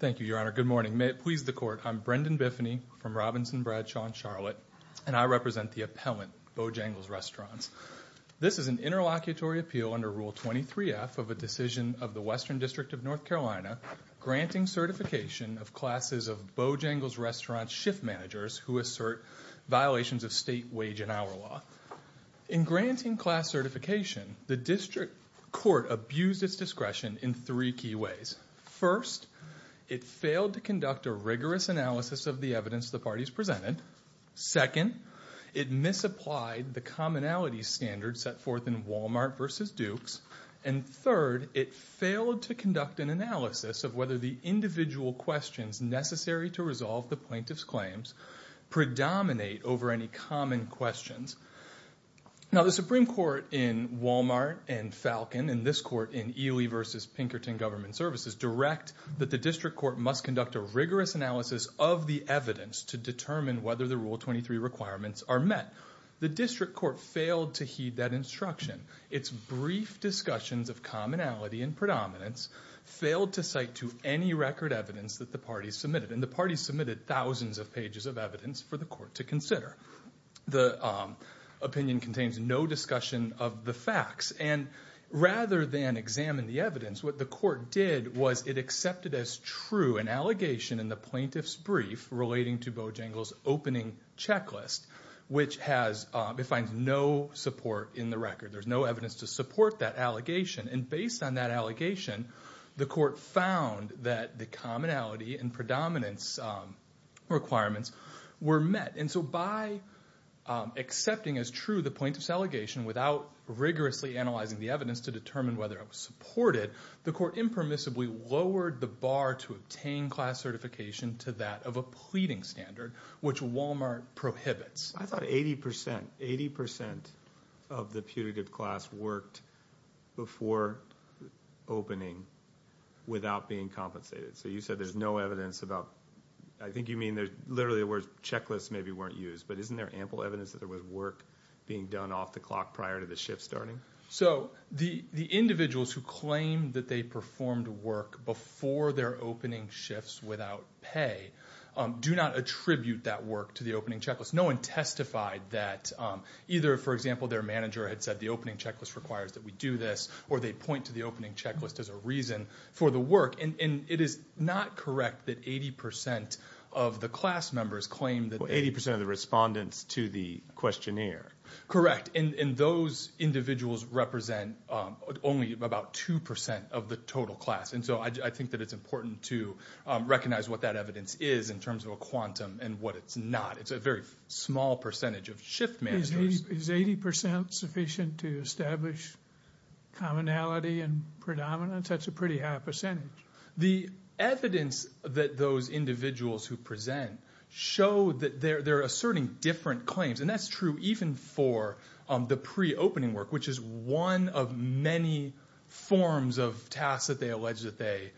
Thank you, Your Honor. Good morning. May it please the Court, I'm Brendan Biffany from Robinson Bradshaw and Charlotte, and I represent the appellant, Bojangles' Restaurants. This is an interlocutory appeal under Rule 23F of a decision of the Western District of North Carolina granting certification of classes of Bojangles' Restaurants shift managers who assert violations of state wage and hour law. In granting class certification, the District Court abused its discretion in three key ways. First, it failed to conduct a rigorous analysis of the evidence the parties presented. Second, it misapplied the commonality standards set forth in Walmart v. Dukes. And third, it failed to conduct an analysis of whether the individual questions necessary to resolve the plaintiff's claims predominate over any common questions. Now, the Supreme Court in Walmart and Falcon and this Court in Ely v. Pinkerton Government Services direct that the District Court must conduct a rigorous analysis of the evidence to determine whether the Rule 23 requirements are met. The District Court failed to heed that instruction. Its brief discussions of commonality and predominance failed to cite to any record evidence that the parties submitted. And the parties submitted thousands of pages of evidence for the Court to consider. The opinion contains no discussion of the facts. And rather than examine the evidence, what the Court did was it accepted as true an allegation in the plaintiff's brief relating to Bojangles' opening checklist, which has defined no support in the record. There's no evidence to support that allegation. And based on that allegation, the Court found that the commonality and predominance requirements were met. And so by accepting as true the plaintiff's allegation without rigorously analyzing the evidence to determine whether it was supported, the Court impermissibly lowered the bar to obtain class certification to that of a pleading standard, which Walmart prohibits. I thought 80% of the putative class worked before opening without being compensated. So you said there's no evidence about – I think you mean literally the word checklist maybe weren't used. But isn't there ample evidence that there was work being done off the clock prior to the shift starting? So the individuals who claim that they performed work before their opening shifts without pay do not attribute that work to the opening checklist. No one testified that either, for example, their manager had said the opening checklist requires that we do this, or they point to the opening checklist as a reason for the work. And it is not correct that 80% of the class members claim that – Well, 80% of the respondents to the questionnaire. Correct. And those individuals represent only about 2% of the total class. And so I think that it's important to recognize what that evidence is in terms of a quantum and what it's not. It's a very small percentage of shift managers. Is 80% sufficient to establish commonality and predominance? That's a pretty high percentage. The evidence that those individuals who present show that they're asserting different claims, and that's true even for the pre-opening work, which is one of many forms of tasks that they allege that they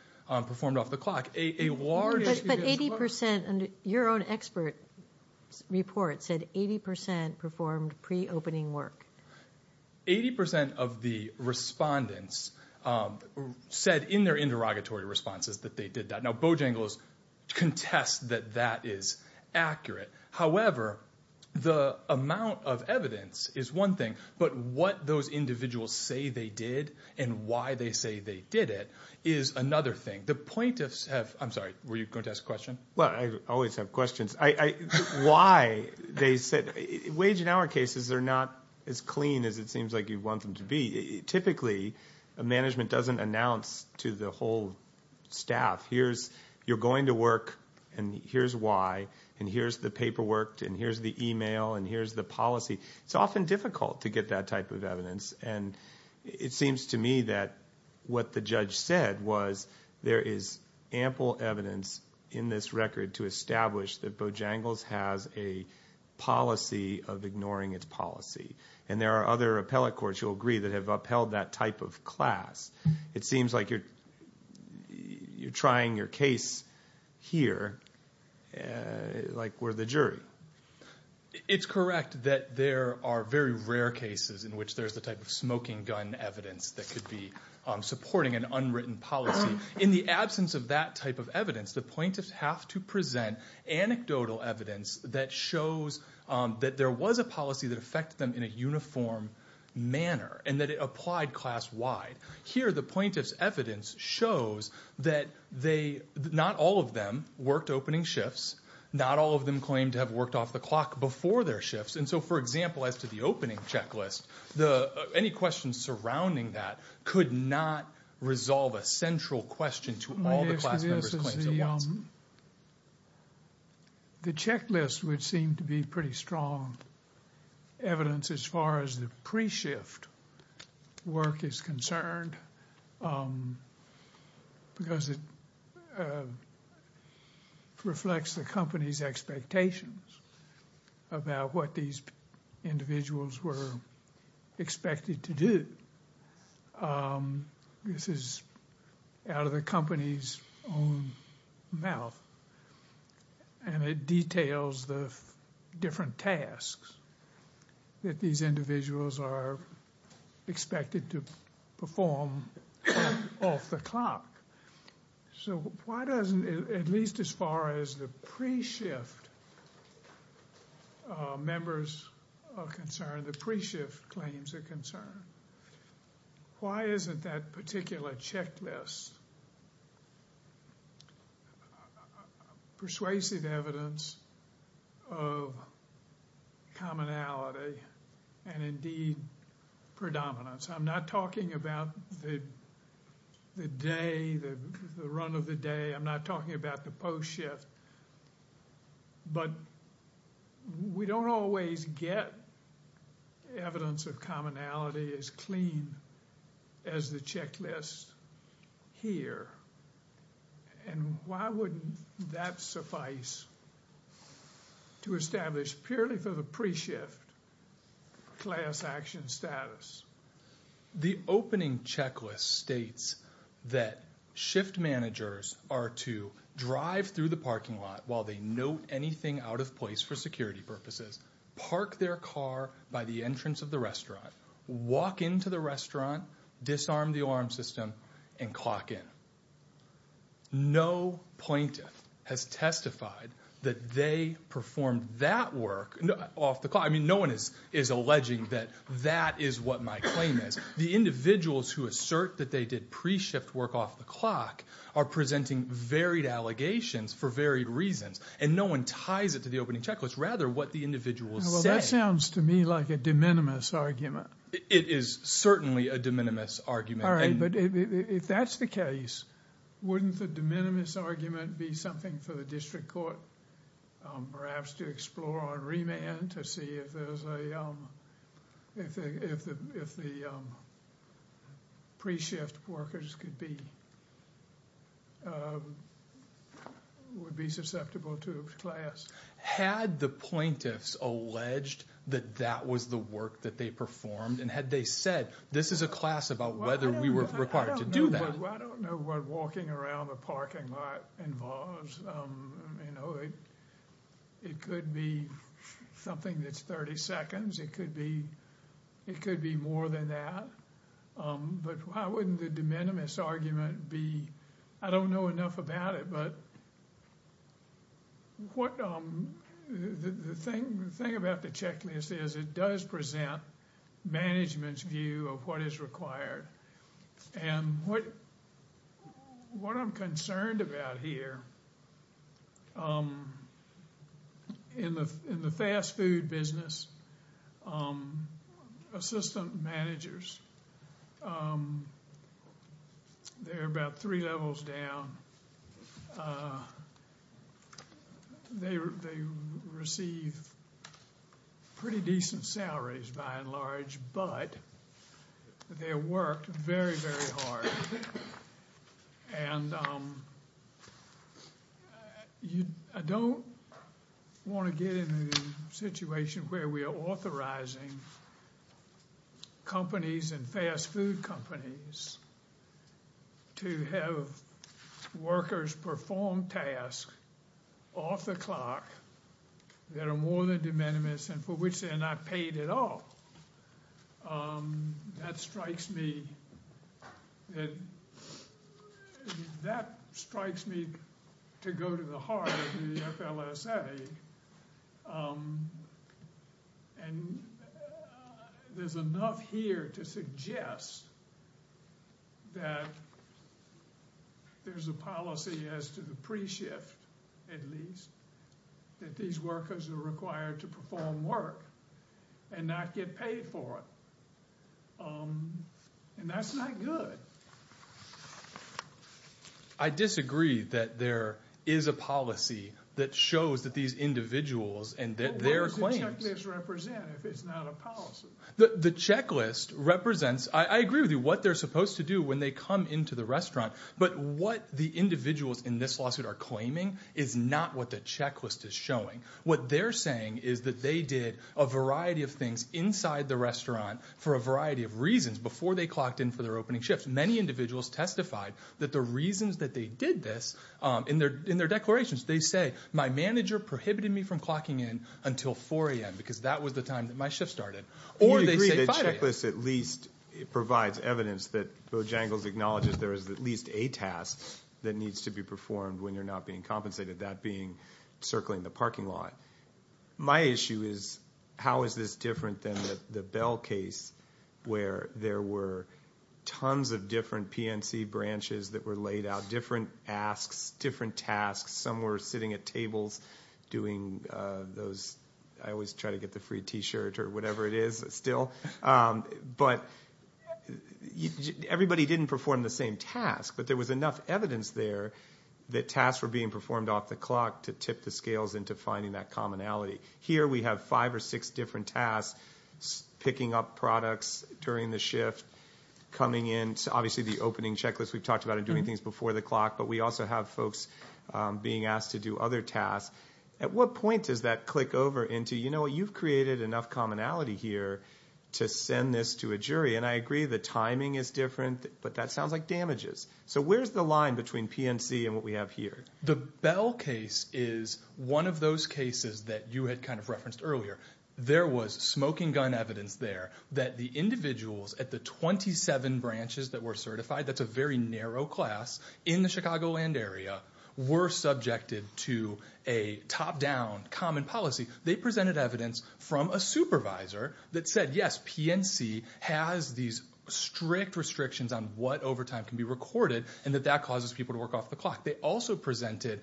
performed off the clock. But 80% – your own expert report said 80% performed pre-opening work. 80% of the respondents said in their interrogatory responses that they did that. Now, Bojangles contests that that is accurate. However, the amount of evidence is one thing, but what those individuals say they did and why they say they did it is another thing. The plaintiffs have – I'm sorry, were you going to ask a question? Well, I always have questions. Why they said – wage and hour cases are not as clean as it seems like you want them to be. Typically, management doesn't announce to the whole staff, here's – you're going to work, and here's why, and here's the paperwork, and here's the email, and here's the policy. It's often difficult to get that type of evidence. And it seems to me that what the judge said was there is ample evidence in this record to establish that Bojangles has a policy of ignoring its policy. And there are other appellate courts, you'll agree, that have upheld that type of class. It seems like you're trying your case here like we're the jury. It's correct that there are very rare cases in which there's the type of smoking gun evidence that could be supporting an unwritten policy. In the absence of that type of evidence, the plaintiffs have to present anecdotal evidence that shows that there was a policy that affected them in a uniform manner and that it applied class-wide. Here, the plaintiff's evidence shows that they – not all of them worked opening shifts. Not all of them claim to have worked off the clock before their shifts. And so, for example, as to the opening checklist, any questions surrounding that could not resolve a central question to all the class members' claims at once. My guess to this is the checklist would seem to be pretty strong evidence as far as the pre-shift work is concerned because it reflects the company's expectations about what these individuals were expected to do. This is out of the company's own mouth and it details the different tasks that these individuals are expected to perform off the clock. So why doesn't – at least as far as the pre-shift members are concerned, and the pre-shift claims are concerned, why isn't that particular checklist persuasive evidence of commonality and indeed predominance? I'm not talking about the day, the run of the day. I'm not talking about the post-shift. But we don't always get evidence of commonality as clean as the checklist here. And why wouldn't that suffice to establish purely for the pre-shift class action status? The opening checklist states that shift managers are to drive through the parking lot while they note anything out of place for security purposes, park their car by the entrance of the restaurant, walk into the restaurant, disarm the alarm system, and clock in. No plaintiff has testified that they performed that work off the clock. I mean, no one is alleging that that is what my claim is. The individuals who assert that they did pre-shift work off the clock are presenting varied allegations for varied reasons, and no one ties it to the opening checklist, rather what the individual said. Well, that sounds to me like a de minimis argument. It is certainly a de minimis argument. All right, but if that's the case, wouldn't the de minimis argument be something for the district court perhaps to explore on remand to see if the pre-shift workers would be susceptible to a class? Had the plaintiffs alleged that that was the work that they performed, and had they said, this is a class about whether we were required to do that? I don't know what walking around the parking lot involves. It could be something that's 30 seconds. It could be more than that. But why wouldn't the de minimis argument be, I don't know enough about it, but the thing about the checklist is it does present management's view of what is required. And what I'm concerned about here, in the fast food business, assistant managers, they're about three levels down. They receive pretty decent salaries by and large, but they work very, very hard. And I don't want to get in a situation where we are authorizing companies and fast food companies to have workers perform tasks off the clock that are more than de minimis and for which they are not paid at all. That strikes me to go to the heart of the FLSA. And there's enough here to suggest that there's a policy as to the pre-shift, at least, that these workers are required to perform work and not get paid for it. And that's not good. I disagree that there is a policy that shows that these individuals and their claims— What does the checklist represent if it's not a policy? The checklist represents—I agree with you, what they're supposed to do when they come into the restaurant. But what the individuals in this lawsuit are claiming is not what the checklist is showing. What they're saying is that they did a variety of things inside the restaurant for a variety of reasons before they clocked in for their opening shifts. Many individuals testified that the reasons that they did this in their declarations, they say, my manager prohibited me from clocking in until 4 a.m. because that was the time that my shift started. Or they say 5 a.m. You agree that the checklist at least provides evidence that Bojangles acknowledges there is at least a task that needs to be performed when you're not being compensated, that being circling the parking lot. My issue is how is this different than the Bell case where there were tons of different PNC branches that were laid out, different asks, different tasks. Some were sitting at tables doing those— I always try to get the free T-shirt or whatever it is still. But everybody didn't perform the same task, but there was enough evidence there that tasks were being performed off the clock to tip the scales into finding that commonality. Here we have five or six different tasks, picking up products during the shift, coming in to obviously the opening checklist we've talked about and doing things before the clock, but we also have folks being asked to do other tasks. At what point does that click over into, you know what, you've created enough commonality here to send this to a jury. And I agree the timing is different, but that sounds like damages. So where's the line between PNC and what we have here? The Bell case is one of those cases that you had kind of referenced earlier. There was smoking gun evidence there that the individuals at the 27 branches that were certified, that's a very narrow class, in the Chicagoland area were subjected to a top-down common policy. They presented evidence from a supervisor that said, yes, PNC has these strict restrictions on what overtime can be recorded and that that causes people to work off the clock. They also presented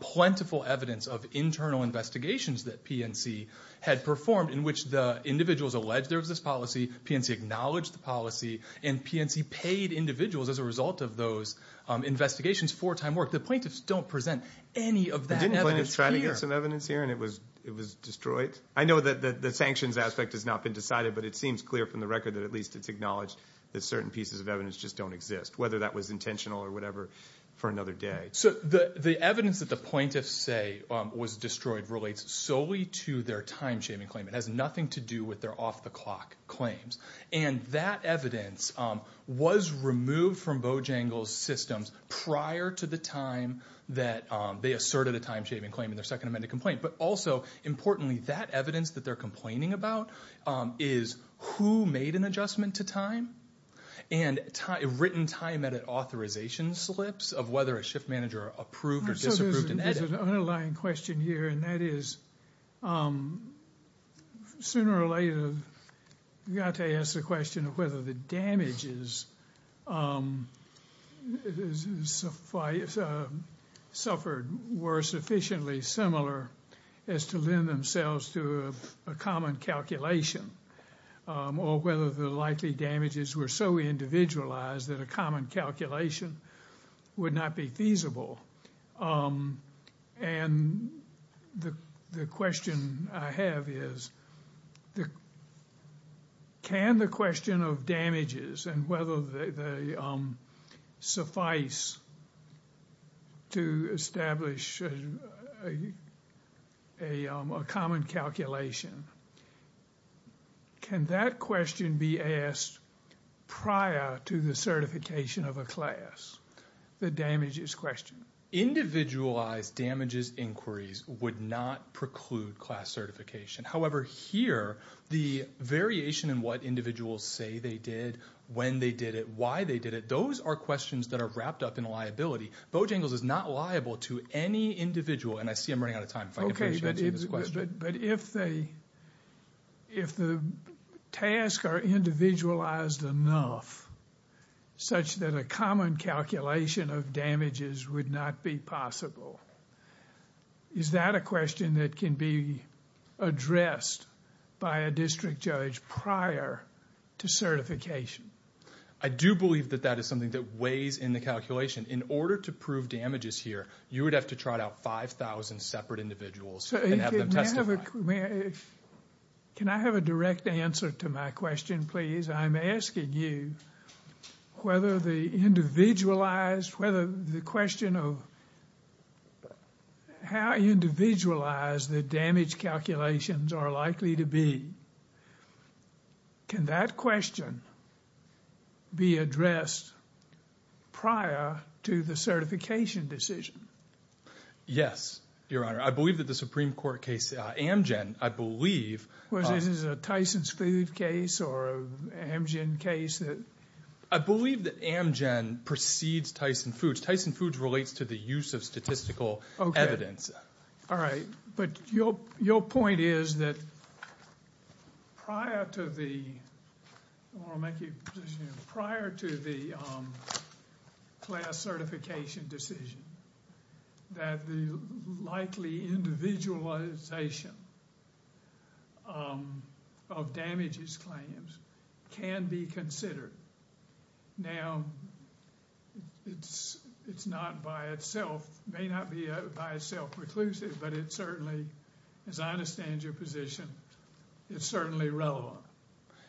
plentiful evidence of internal investigations that PNC had performed in which the individuals alleged there was this policy, PNC acknowledged the policy, and PNC paid individuals as a result of those investigations for time work. The plaintiffs don't present any of that evidence here. Didn't plaintiffs try to get some evidence here and it was destroyed? I know that the sanctions aspect has not been decided, but it seems clear from the record that at least it's acknowledged that certain pieces of evidence just don't exist, whether that was intentional or whatever, for another day. The evidence that the plaintiffs say was destroyed relates solely to their time-shaming claim. It has nothing to do with their off-the-clock claims. That evidence was removed from Bojangles' systems prior to the time that they asserted a time-shaming claim in their Second Amendment complaint. But also, importantly, that evidence that they're complaining about is who made an adjustment to time and written time-edit authorization slips of whether a shift manager approved or disapproved an edit. There's an underlying question here, and that is, sooner or later, you've got to ask the question of whether the damages suffered were sufficiently similar as to lend themselves to a common calculation or whether the likely damages were so individualized that a common calculation would not be feasible. And the question I have is, can the question of damages and whether they suffice to establish a common calculation can that question be asked prior to the certification of a class? The damages question. Individualized damages inquiries would not preclude class certification. However, here, the variation in what individuals say they did, when they did it, why they did it, those are questions that are wrapped up in liability. Bojangles is not liable to any individual. And I see I'm running out of time. Okay, but if the tasks are individualized enough such that a common calculation of damages would not be possible, is that a question that can be addressed by a district judge prior to certification? I do believe that that is something that weighs in the calculation. In order to prove damages here, you would have to try out 5,000 separate individuals and have them testify. Can I have a direct answer to my question, please? I'm asking you whether the individualized, whether the question of how individualized the damage calculations are likely to be, can that question be addressed prior to the certification decision? Yes, Your Honor. I believe that the Supreme Court case, Amgen, I believe... Was this a Tyson Foods case or an Amgen case? I believe that Amgen precedes Tyson Foods. Tyson Foods relates to the use of statistical evidence. All right. But your point is that prior to the class certification decision, that the likely individualization of damages claims can be considered. Now, it's not by itself, may not be by itself reclusive, but it certainly, as I understand your position, it's certainly relevant.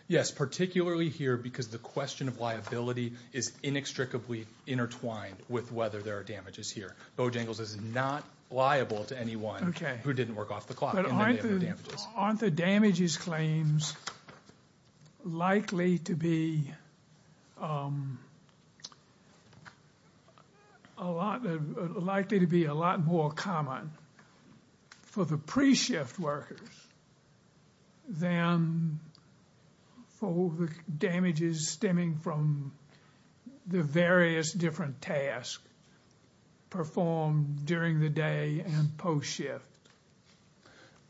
Yes, particularly here because the question of liability is inextricably intertwined with whether there are damages here. Bojangles is not liable to anyone who didn't work off the clock. Aren't the damages claims likely to be a lot more common for the pre-shift workers than for the damages stemming from the various different tasks performed during the day and post-shift?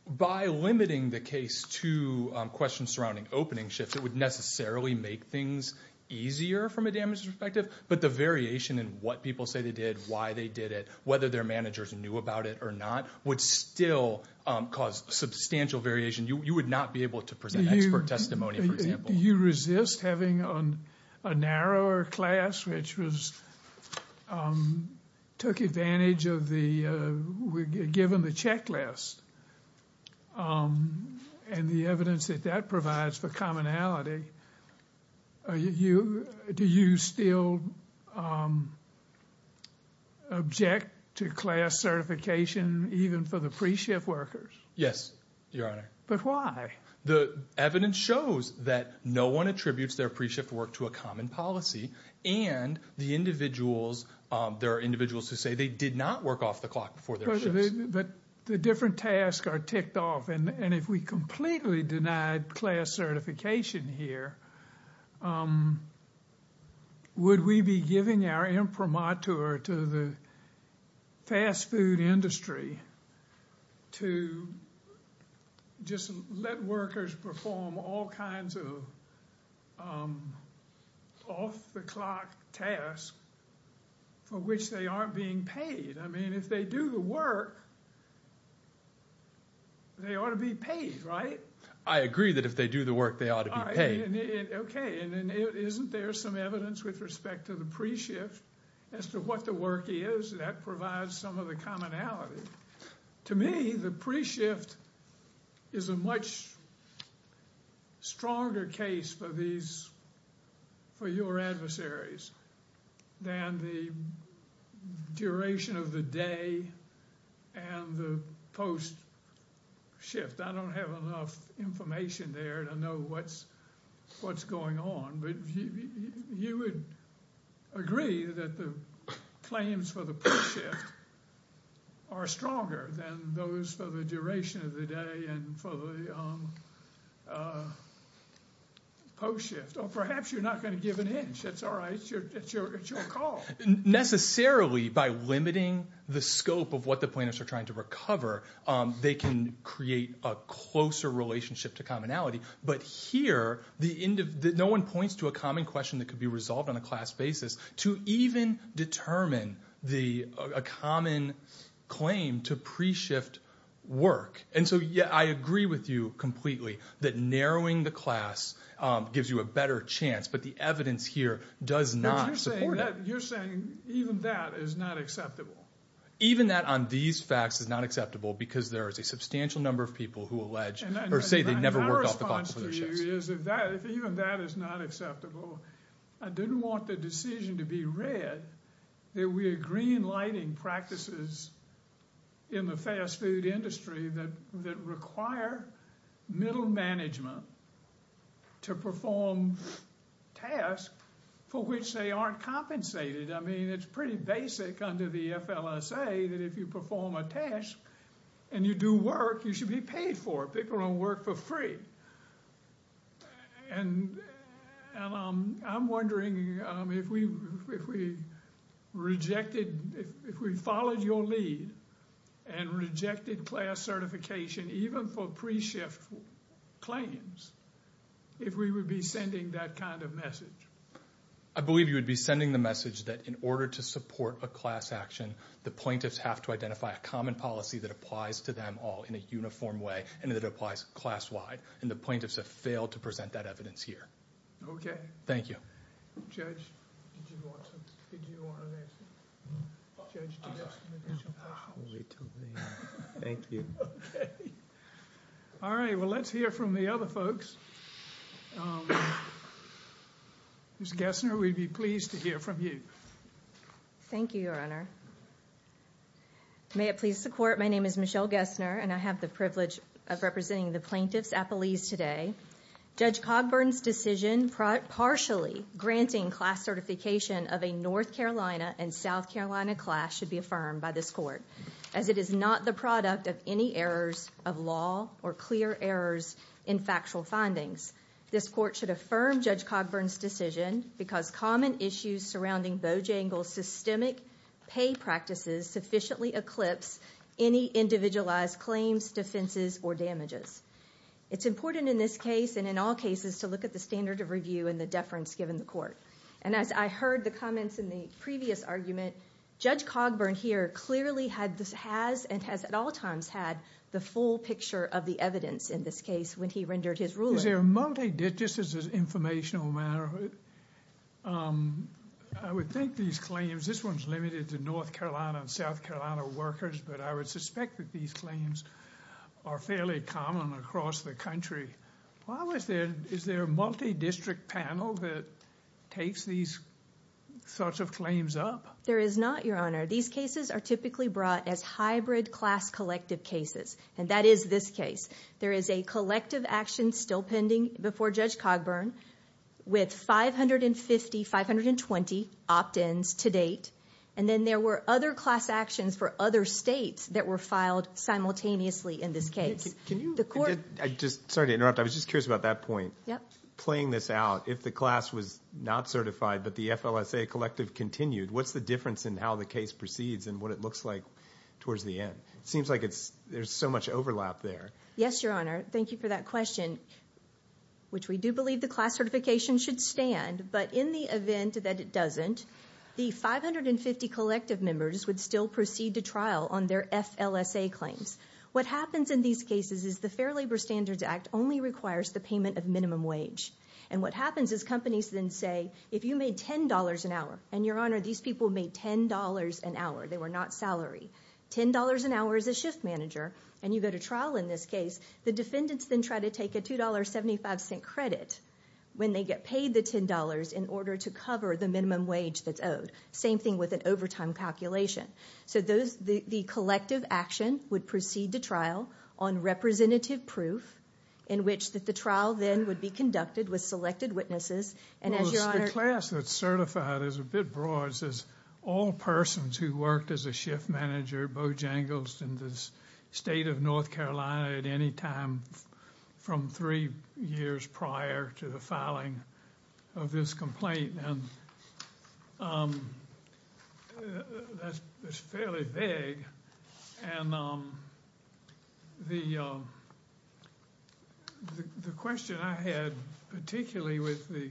By limiting the case to questions surrounding opening shifts, it would necessarily make things easier from a damages perspective, but the variation in what people say they did, why they did it, whether their managers knew about it or not, would still cause substantial variation. You would not be able to present expert testimony, for example. Do you resist having a narrower class which took advantage of the, given the checklist and the evidence that that provides for commonality? Do you still object to class certification even for the pre-shift workers? Yes, Your Honor. But why? The evidence shows that no one attributes their pre-shift work to a common policy and there are individuals who say they did not work off the clock before their shifts. But the different tasks are ticked off, and if we completely denied class certification here, would we be giving our imprimatur to the fast food industry to just let workers perform all kinds of off-the-clock tasks for which they aren't being paid? I mean, if they do the work, they ought to be paid, right? I agree that if they do the work, they ought to be paid. Okay, and isn't there some evidence with respect to the pre-shift as to what the work is? That provides some of the commonality. To me, the pre-shift is a much stronger case for these, for your adversaries, than the duration of the day and the post-shift. I don't have enough information there to know what's going on, but you would agree that the claims for the post-shift are stronger than those for the duration of the day and for the post-shift. Or perhaps you're not going to give an inch. That's all right. It's your call. Necessarily, by limiting the scope of what the plaintiffs are trying to recover, they can create a closer relationship to commonality. But here, no one points to a common question that could be resolved on a class basis to even determine a common claim to pre-shift work. And so I agree with you completely that narrowing the class gives you a better chance, but the evidence here does not support it. But you're saying even that is not acceptable. Even that on these facts is not acceptable because there is a substantial number of people who allege or say they never worked off the bottom of their shifts. My response to you is if even that is not acceptable, I didn't want the decision to be read that we're green-lighting practices in the fast-food industry that require middle management to perform tasks for which they aren't compensated. I mean, it's pretty basic under the FLSA that if you perform a task and you do work, you should be paid for it. People don't work for free. And I'm wondering if we followed your lead and rejected class certification even for pre-shift claims, if we would be sending that kind of message. I believe you would be sending the message that in order to support a class action, the plaintiffs have to identify a common policy that applies to them all in a uniform way and that applies class-wide. And the plaintiffs have failed to present that evidence here. Okay. Thank you. Judge, did you want to answer? Judge, did you have some additional questions? Thank you. Okay. All right. Well, let's hear from the other folks. Ms. Gessner, we'd be pleased to hear from you. Thank you, Your Honor. May it please the Court, my name is Michelle Gessner, and I have the privilege of representing the plaintiffs' appellees today. Judge Cogburn's decision partially granting class certification of a North Carolina and South Carolina class should be affirmed by this Court, as it is not the product of any errors of law or clear errors in factual findings. This Court should affirm Judge Cogburn's decision because common issues surrounding Bojangles' systemic pay practices sufficiently eclipse any individualized claims, defenses, or damages. It's important in this case and in all cases to look at the standard of review and the deference given the Court. And as I heard the comments in the previous argument, Judge Cogburn here clearly has and has at all times had the full picture of the evidence in this case when he rendered his ruling. Is there a multidistrict, just as an informational matter, I would think these claims, this one's limited to North Carolina and South Carolina workers, but I would suspect that these claims are fairly common across the country. Is there a multidistrict panel that takes these sorts of claims up? There is not, Your Honor. These cases are typically brought as hybrid class collective cases, and that is this case. There is a collective action still pending before Judge Cogburn with 550, 520 opt-ins to date, and then there were other class actions for other states that were filed simultaneously in this case. Sorry to interrupt. I was just curious about that point. Playing this out, if the class was not certified but the FLSA collective continued, what's the difference in how the case proceeds and what it looks like towards the end? It seems like there's so much overlap there. Yes, Your Honor. Thank you for that question, which we do believe the class certification should stand, but in the event that it doesn't, the 550 collective members would still proceed to trial on their FLSA claims. What happens in these cases is the Fair Labor Standards Act only requires the payment of minimum wage, and what happens is companies then say, if you made $10 an hour, and, Your Honor, these people made $10 an hour. They were not salary. $10 an hour is a shift manager, and you go to trial in this case. The defendants then try to take a $2.75 credit when they get paid the $10 in order to cover the minimum wage that's owed. Same thing with an overtime calculation. So the collective action would proceed to trial on representative proof, in which the trial then would be conducted with selected witnesses, and as Your Honor— The class that's certified is a bit broad. It says all persons who worked as a shift manager at Bojangles in the state of North Carolina at any time from three years prior to the filing of this complaint, and that's fairly vague. And the question I had, particularly with the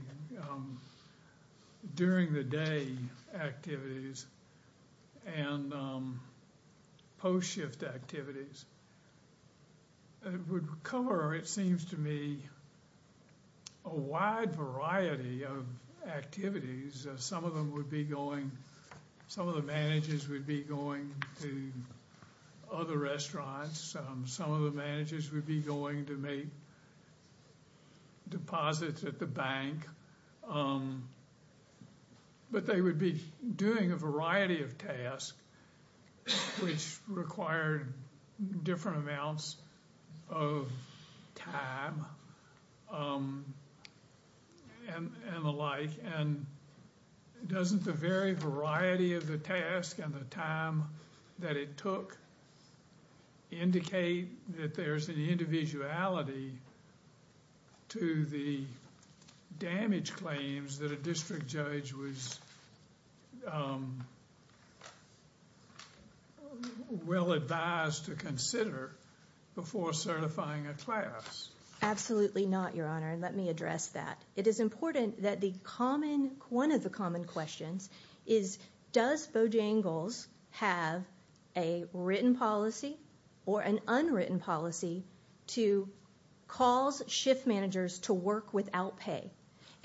during-the-day activities and post-shift activities, would cover, it seems to me, a wide variety of activities. Some of them would be going—some of the managers would be going to other restaurants. Some of the managers would be going to make deposits at the bank. But they would be doing a variety of tasks, which required different amounts of time and the like. And doesn't the very variety of the task and the time that it took indicate that there's an individuality to the damage claims that a district judge was well advised to consider before certifying a class? Absolutely not, Your Honor, and let me address that. It is important that the common—one of the common questions is, does Bojangles have a written policy or an unwritten policy to cause shift managers to work without pay?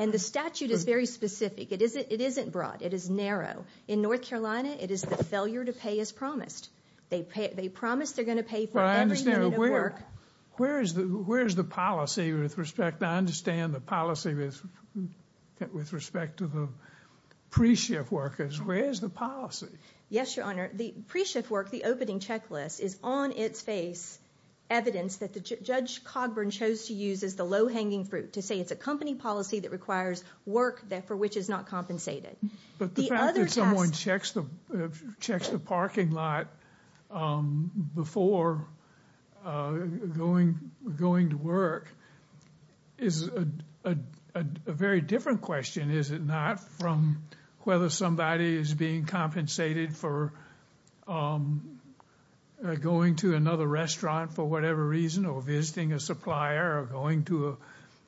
And the statute is very specific. It isn't broad. It is narrow. In North Carolina, it is the failure to pay as promised. They promise they're going to pay for every minute of work. Where is the policy with respect—I understand the policy with respect to the pre-shift workers. Where is the policy? Yes, Your Honor, the pre-shift work, the opening checklist, is on its face evidence that Judge Cogburn chose to use as the low-hanging fruit to say it's a company policy that requires work for which is not compensated. But the fact that someone checks the parking lot before going to work is a very different question, is it not, from whether somebody is being compensated for going to another restaurant for whatever reason or visiting a supplier or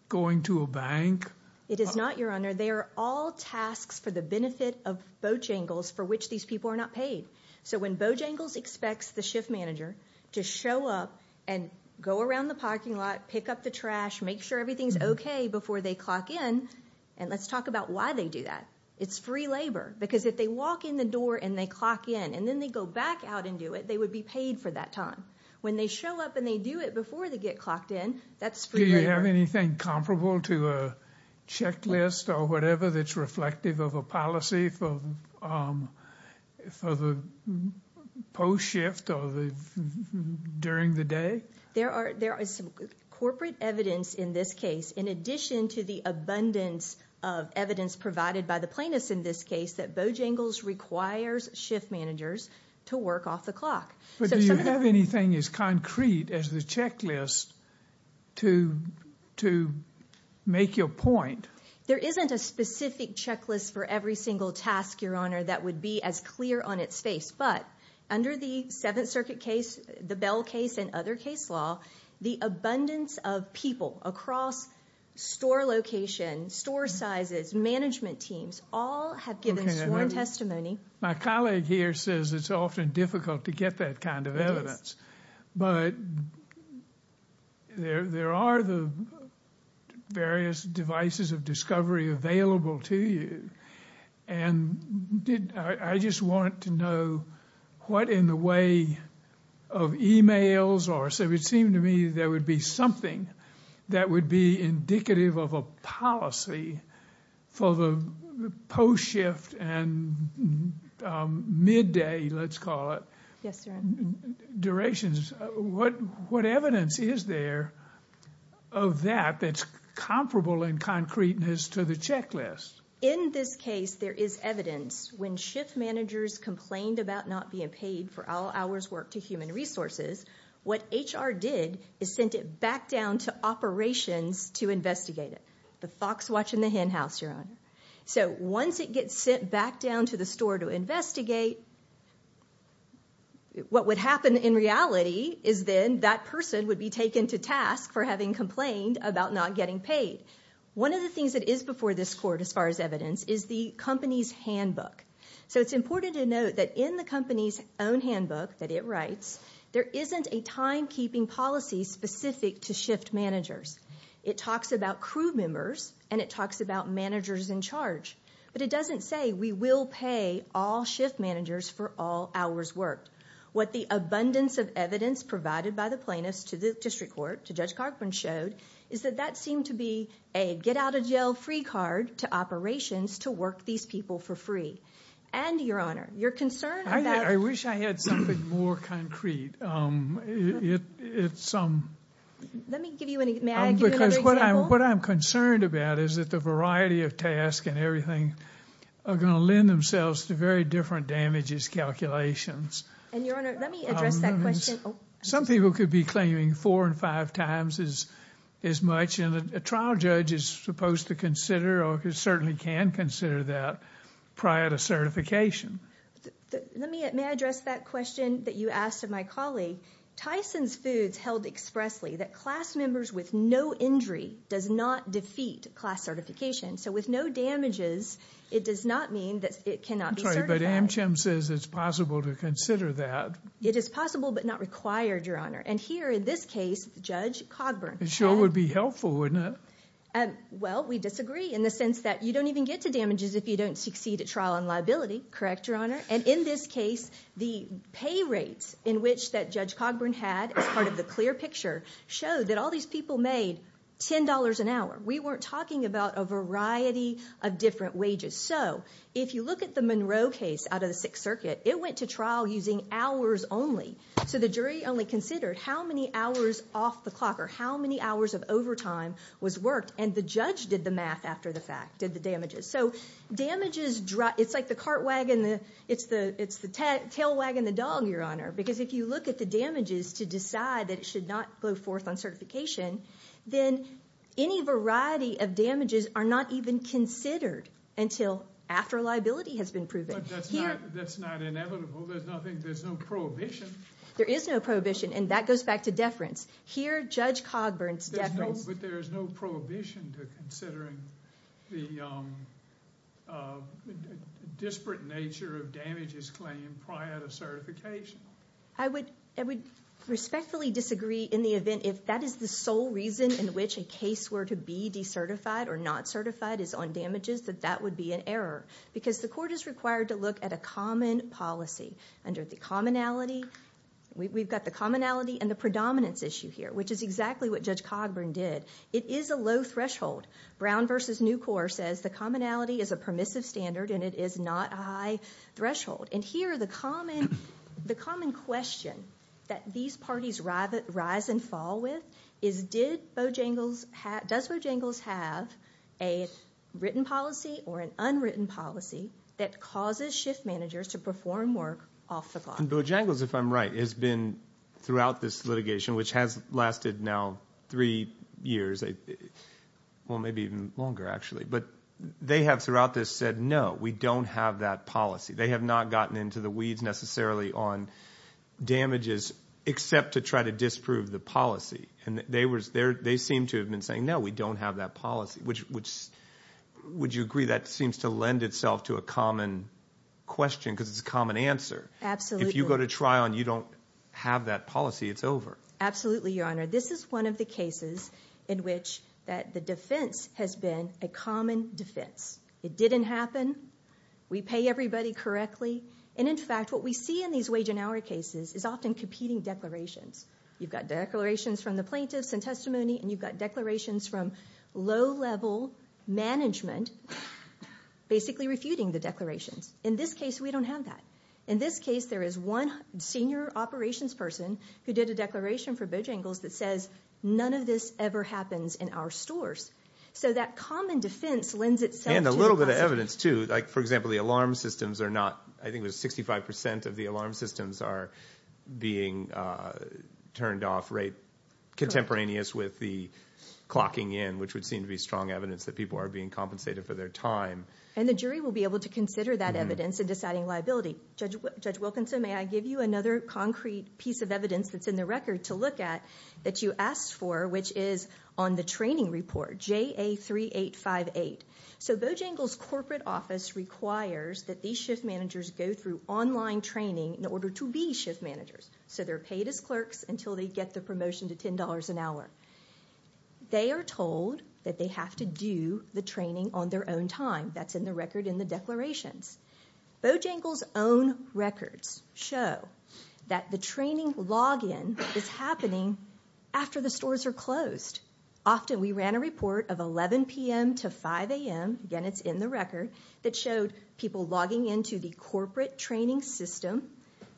going to a bank? It is not, Your Honor. They are all tasks for the benefit of Bojangles for which these people are not paid. So when Bojangles expects the shift manager to show up and go around the parking lot, pick up the trash, make sure everything's okay before they clock in—and let's talk about why they do that. It's free labor, because if they walk in the door and they clock in and then they go back out and do it, they would be paid for that time. When they show up and they do it before they get clocked in, that's free labor. Do you have anything comparable to a checklist or whatever that's reflective of a policy for the post-shift or during the day? There is some corporate evidence in this case, in addition to the abundance of evidence provided by the plaintiffs in this case, that Bojangles requires shift managers to work off the clock. But do you have anything as concrete as the checklist to make your point? There isn't a specific checklist for every single task, Your Honor, that would be as clear on its face. But under the Seventh Circuit case, the Bell case, and other case law, the abundance of people across store location, store sizes, management teams, all have given sworn testimony. My colleague here says it's often difficult to get that kind of evidence. But there are the various devices of discovery available to you. And I just want to know what in the way of e-mails, or it would seem to me there would be something that would be indicative of a policy for the post-shift and midday, let's call it, durations. What evidence is there of that that's comparable in concreteness to the checklist? In this case, there is evidence. When shift managers complained about not being paid for all hours worked to human resources, what HR did is sent it back down to operations to investigate it. The fox watching the hen house, Your Honor. So once it gets sent back down to the store to investigate, what would happen in reality is then that person would be taken to task for having complained about not getting paid. One of the things that is before this court as far as evidence is the company's handbook. So it's important to note that in the company's own handbook that it writes, there isn't a timekeeping policy specific to shift managers. It talks about crew members and it talks about managers in charge. But it doesn't say we will pay all shift managers for all hours worked. What the abundance of evidence provided by the plaintiffs to the district court, to Judge Cogburn, showed is that that seemed to be a get-out-of-jail-free card to operations to work these people for free. And, Your Honor, your concern about- I wish I had something more concrete. Let me give you another example. What I'm concerned about is that the variety of tasks and everything are going to lend themselves to very different damages calculations. And, Your Honor, let me address that question. Some people could be claiming four and five times as much. And a trial judge is supposed to consider or certainly can consider that prior to certification. May I address that question that you asked of my colleague? Tyson's Foods held expressly that class members with no injury does not defeat class certification. So with no damages, it does not mean that it cannot be certified. I'm sorry, but Amcham says it's possible to consider that. It is possible but not required, Your Honor. And here in this case, Judge Cogburn- It sure would be helpful, wouldn't it? Well, we disagree in the sense that you don't even get to damages if you don't succeed at trial on liability. Correct, Your Honor? And in this case, the pay rates in which that Judge Cogburn had as part of the clear picture showed that all these people made $10 an hour. We weren't talking about a variety of different wages. So if you look at the Monroe case out of the Sixth Circuit, it went to trial using hours only. So the jury only considered how many hours off the clock or how many hours of overtime was worked. And the judge did the math after the fact, did the damages. So damages, it's like the cart wagon, it's the tail wagon, the dog, Your Honor. Because if you look at the damages to decide that it should not go forth on certification, then any variety of damages are not even considered until after liability has been proven. But that's not inevitable. There's no prohibition. There is no prohibition, and that goes back to deference. Here, Judge Cogburn's deference- But there is no prohibition to considering the disparate nature of damages claimed prior to certification. I would respectfully disagree in the event if that is the sole reason in which a case were to be decertified or not certified is on damages, that that would be an error. Because the court is required to look at a common policy. Under the commonality, we've got the commonality and the predominance issue here, which is exactly what Judge Cogburn did. It is a low threshold. Brown v. Nucor says the commonality is a permissive standard and it is not a high threshold. And here, the common question that these parties rise and fall with is, does Bojangles have a written policy or an unwritten policy that causes shift managers to perform work off the clock? And Bojangles, if I'm right, has been throughout this litigation, which has lasted now three years, well, maybe even longer, actually. But they have throughout this said, no, we don't have that policy. They have not gotten into the weeds necessarily on damages except to try to disprove the policy. And they seem to have been saying, no, we don't have that policy. Would you agree that seems to lend itself to a common question because it's a common answer? Absolutely. If you go to trial and you don't have that policy, it's over. Absolutely, Your Honor. This is one of the cases in which the defense has been a common defense. It didn't happen. We pay everybody correctly. And, in fact, what we see in these wage and hour cases is often competing declarations. You've got declarations from the plaintiffs in testimony and you've got declarations from low-level management basically refuting the declarations. In this case, we don't have that. In this case, there is one senior operations person who did a declaration for Bojangles that says, none of this ever happens in our stores. So that common defense lends itself to the question. There's evidence, too. Like, for example, the alarm systems are not, I think it was 65% of the alarm systems are being turned off contemporaneous with the clocking in, which would seem to be strong evidence that people are being compensated for their time. And the jury will be able to consider that evidence in deciding liability. Judge Wilkinson, may I give you another concrete piece of evidence that's in the record to look at that you asked for, which is on the training report, JA3858. So Bojangles' corporate office requires that these shift managers go through online training in order to be shift managers. So they're paid as clerks until they get the promotion to $10 an hour. They are told that they have to do the training on their own time. That's in the record in the declarations. Bojangles' own records show that the training login is happening after the stores are closed. Often we ran a report of 11 p.m. to 5 a.m. Again, it's in the record that showed people logging into the corporate training system,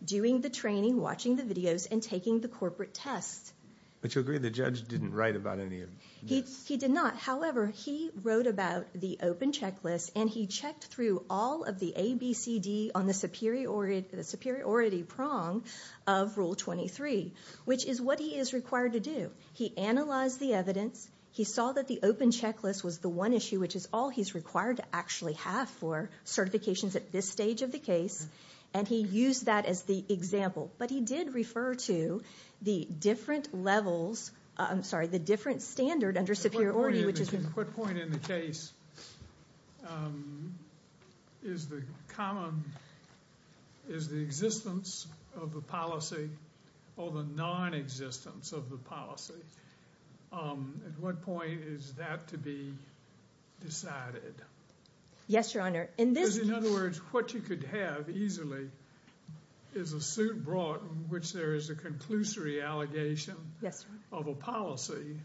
doing the training, watching the videos, and taking the corporate tests. But you agree the judge didn't write about any of this? He did not. However, he wrote about the open checklist, and he checked through all of the ABCD on the superiority prong of Rule 23, which is what he is required to do. He analyzed the evidence. He saw that the open checklist was the one issue, which is all he's required to actually have for certifications at this stage of the case, and he used that as the example. But he did refer to the different levels, I'm sorry, the different standard under superiority. At what point in the case is the existence of the policy or the nonexistence of the policy? At what point is that to be decided? Yes, Your Honor. Because in other words, what you could have easily is a suit brought in which there is a conclusory allegation of a policy,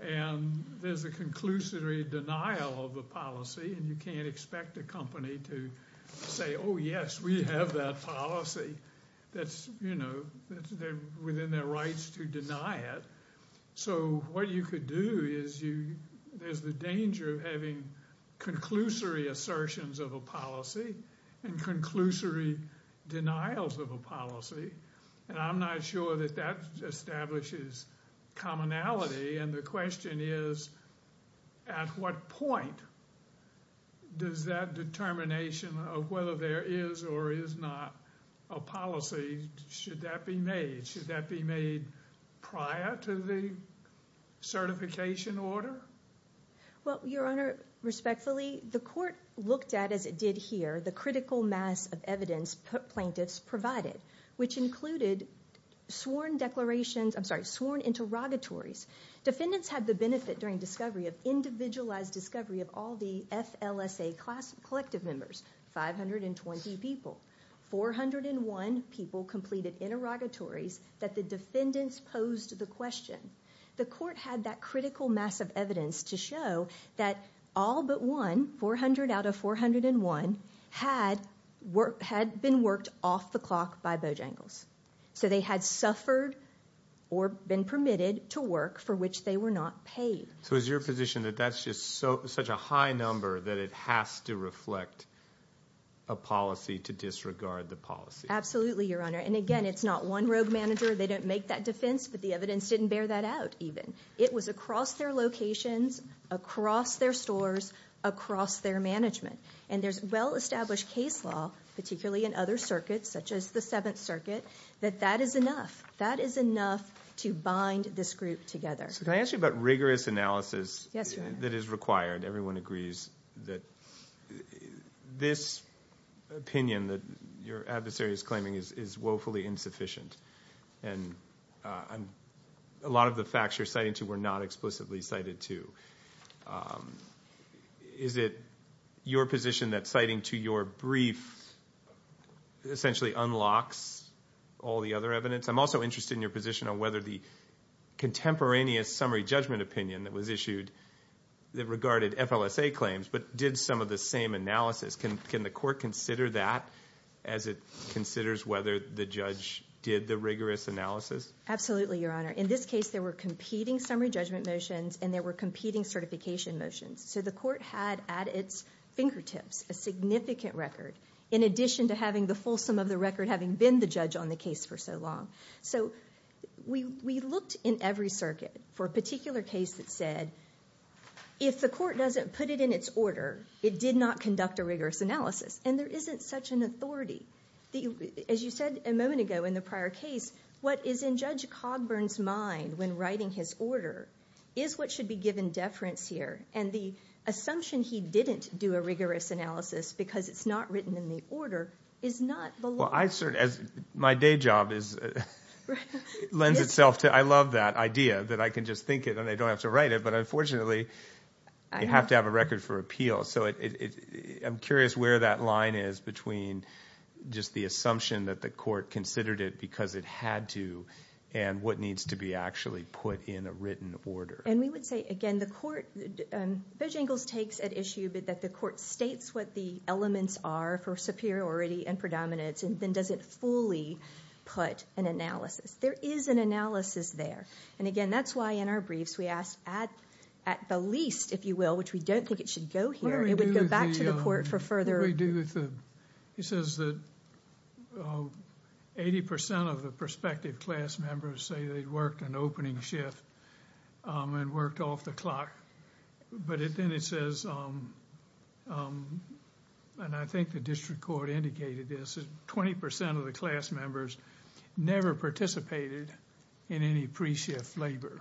and there's a conclusory denial of the policy, and you can't expect a company to say, oh, yes, we have that policy that's within their rights to deny it. So what you could do is there's the danger of having conclusory assertions of a policy and conclusory denials of a policy, and I'm not sure that that establishes commonality, and the question is at what point does that determination of whether there is or is not a policy, should that be made? Should that be made prior to the certification order? Well, Your Honor, respectfully, the court looked at, as it did here, the critical mass of evidence plaintiffs provided, which included sworn interrogatories. Defendants had the benefit during discovery of individualized discovery of all the FLSA collective members, 520 people. 401 people completed interrogatories that the defendants posed the question. The court had that critical mass of evidence to show that all but one, 400 out of 401, had been worked off the clock by Bojangles. So they had suffered or been permitted to work for which they were not paid. So is your position that that's just such a high number that it has to reflect a policy to disregard the policy? Absolutely, Your Honor, and again, it's not one rogue manager. They didn't make that defense, but the evidence didn't bear that out even. It was across their locations, across their stores, across their management. And there's well-established case law, particularly in other circuits, such as the Seventh Circuit, that that is enough. That is enough to bind this group together. So can I ask you about rigorous analysis that is required? Everyone agrees that this opinion that your adversary is claiming is woefully insufficient, and a lot of the facts you're citing to were not explicitly cited to. Is it your position that citing to your brief essentially unlocks all the other evidence? I'm also interested in your position on whether the contemporaneous summary judgment opinion that was issued that regarded FLSA claims but did some of the same analysis. Can the court consider that as it considers whether the judge did the rigorous analysis? Absolutely, Your Honor. In this case, there were competing summary judgment motions and there were competing certification motions. So the court had at its fingertips a significant record, in addition to having the fulsome of the record having been the judge on the case for so long. So we looked in every circuit for a particular case that said, if the court doesn't put it in its order, it did not conduct a rigorous analysis. And there isn't such an authority. As you said a moment ago in the prior case, what is in Judge Cogburn's mind when writing his order is what should be given deference here. And the assumption he didn't do a rigorous analysis because it's not written in the order is not the law. Well, my day job lends itself to, I love that idea that I can just think it and I don't have to write it. But unfortunately, you have to have a record for appeal. So I'm curious where that line is between just the assumption that the court considered it because it had to and what needs to be actually put in a written order. And we would say, again, the court, Bojangles takes at issue that the court states what the elements are for superiority and predominance. And then does it fully put an analysis? There is an analysis there. And again, that's why in our briefs we ask at the least, if you will, which we don't think it should go here. It would go back to the court for further. He says that 80% of the prospective class members say they worked an opening shift and worked off the clock. But then it says, and I think the district court indicated this, 20% of the class members never participated in any pre-shift labor.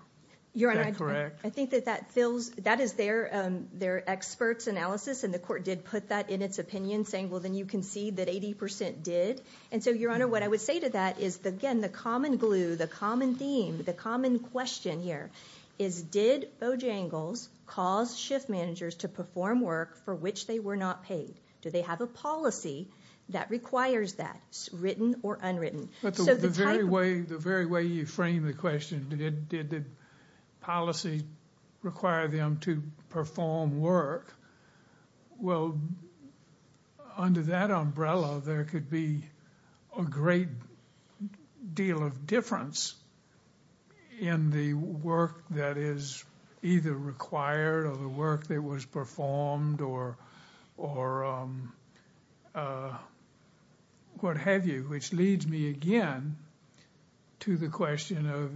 Is that correct? Your Honor, I think that that fills, that is their expert's analysis. And the court did put that in its opinion saying, well, then you concede that 80% did. And so, Your Honor, what I would say to that is, again, the common glue, the common theme, the common question here is, did Bojangles cause shift managers to perform work for which they were not paid? Do they have a policy that requires that, written or unwritten? But the very way you frame the question, did the policy require them to perform work, well, under that umbrella, there could be a great deal of difference in the work that is either required or the work that was performed or what have you, which leads me again to the question of,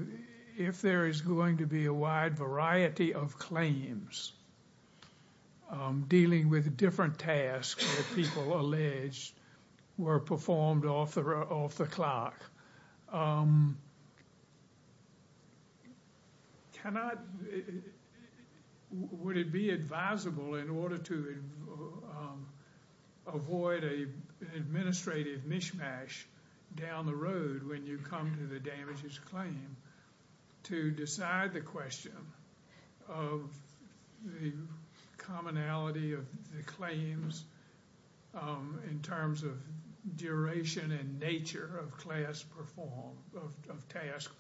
if there is going to be a wide variety of claims dealing with different tasks that people allege were performed off the clock, would it be advisable in order to avoid an administrative mishmash down the road when you come to the damages claim to decide the question of the commonality of the claims in terms of duration and nature of task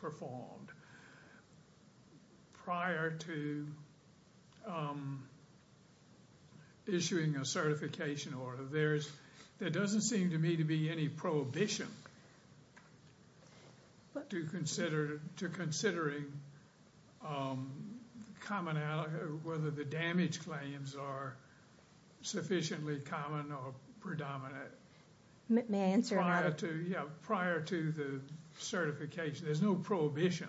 performed prior to issuing a certification order? There doesn't seem to me to be any prohibition to considering whether the damage claims are sufficiently common or predominant prior to the certification. There's no prohibition.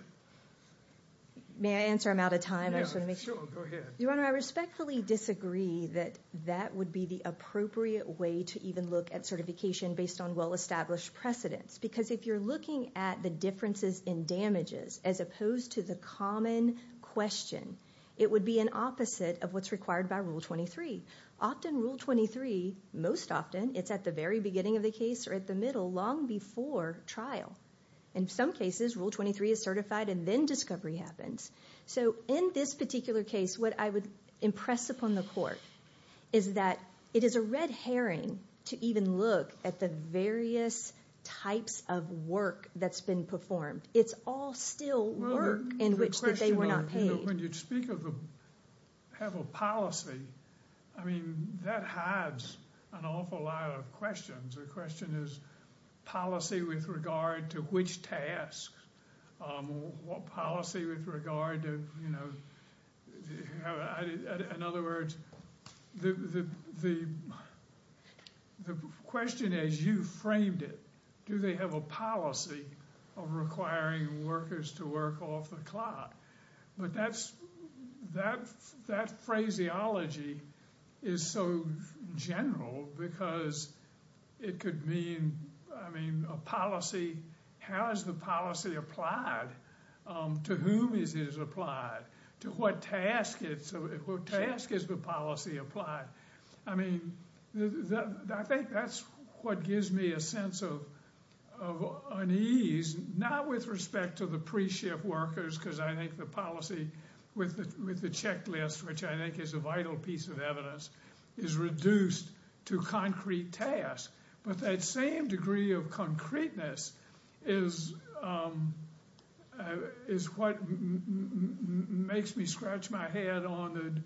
May I answer him out of time? Sure, go ahead. Your Honor, I respectfully disagree that that would be the appropriate way to even look at certification based on well-established precedents, because if you're looking at the differences in damages as opposed to the common question, it would be an opposite of what's required by Rule 23. Often Rule 23, most often, it's at the very beginning of the case or at the middle long before trial. In some cases, Rule 23 is certified and then discovery happens. So in this particular case, what I would impress upon the Court is that it is a red herring to even look at the various types of work that's been performed. It's all still work in which they were not paid. When you speak of have a policy, I mean, that hides an awful lot of questions. The question is policy with regard to which task, what policy with regard to, you know, in other words, the question as you framed it, do they have a policy of requiring workers to work off the clock? But that phraseology is so general because it could mean, I mean, a policy, how is the policy applied? To whom is it applied? To what task is the policy applied? I mean, I think that's what gives me a sense of unease, not with respect to the pre-shift workers because I think the policy with the checklist, which I think is a vital piece of evidence, is reduced to concrete tasks. But that same degree of concreteness is what makes me scratch my head on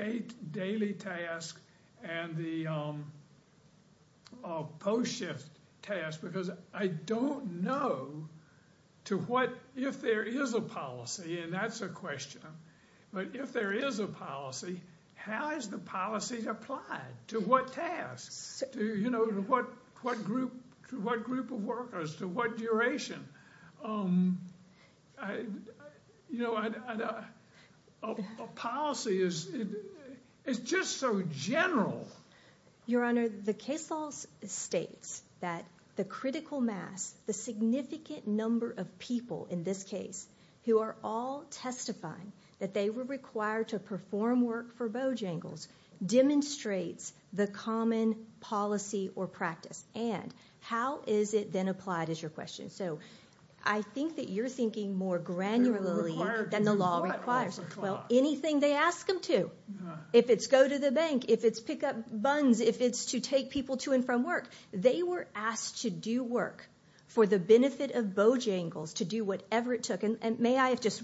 the daily tasks and the post-shift tasks because I don't know to what, if there is a policy, and that's a question, but if there is a policy, how is the policy applied? To what task? You know, to what group of workers? To what duration? You know, a policy is just so general. Your Honor, the case law states that the critical mass, the significant number of people in this case who are all testifying that they were required to perform work for Bojangles demonstrates the common policy or practice, and how is it then applied is your question. So I think that you're thinking more granularly than the law requires. Well, anything they ask them to, if it's go to the bank, if it's pick up buns, if it's to take people to and from work, they were asked to do work for the benefit of Bojangles to do whatever it took, and may I just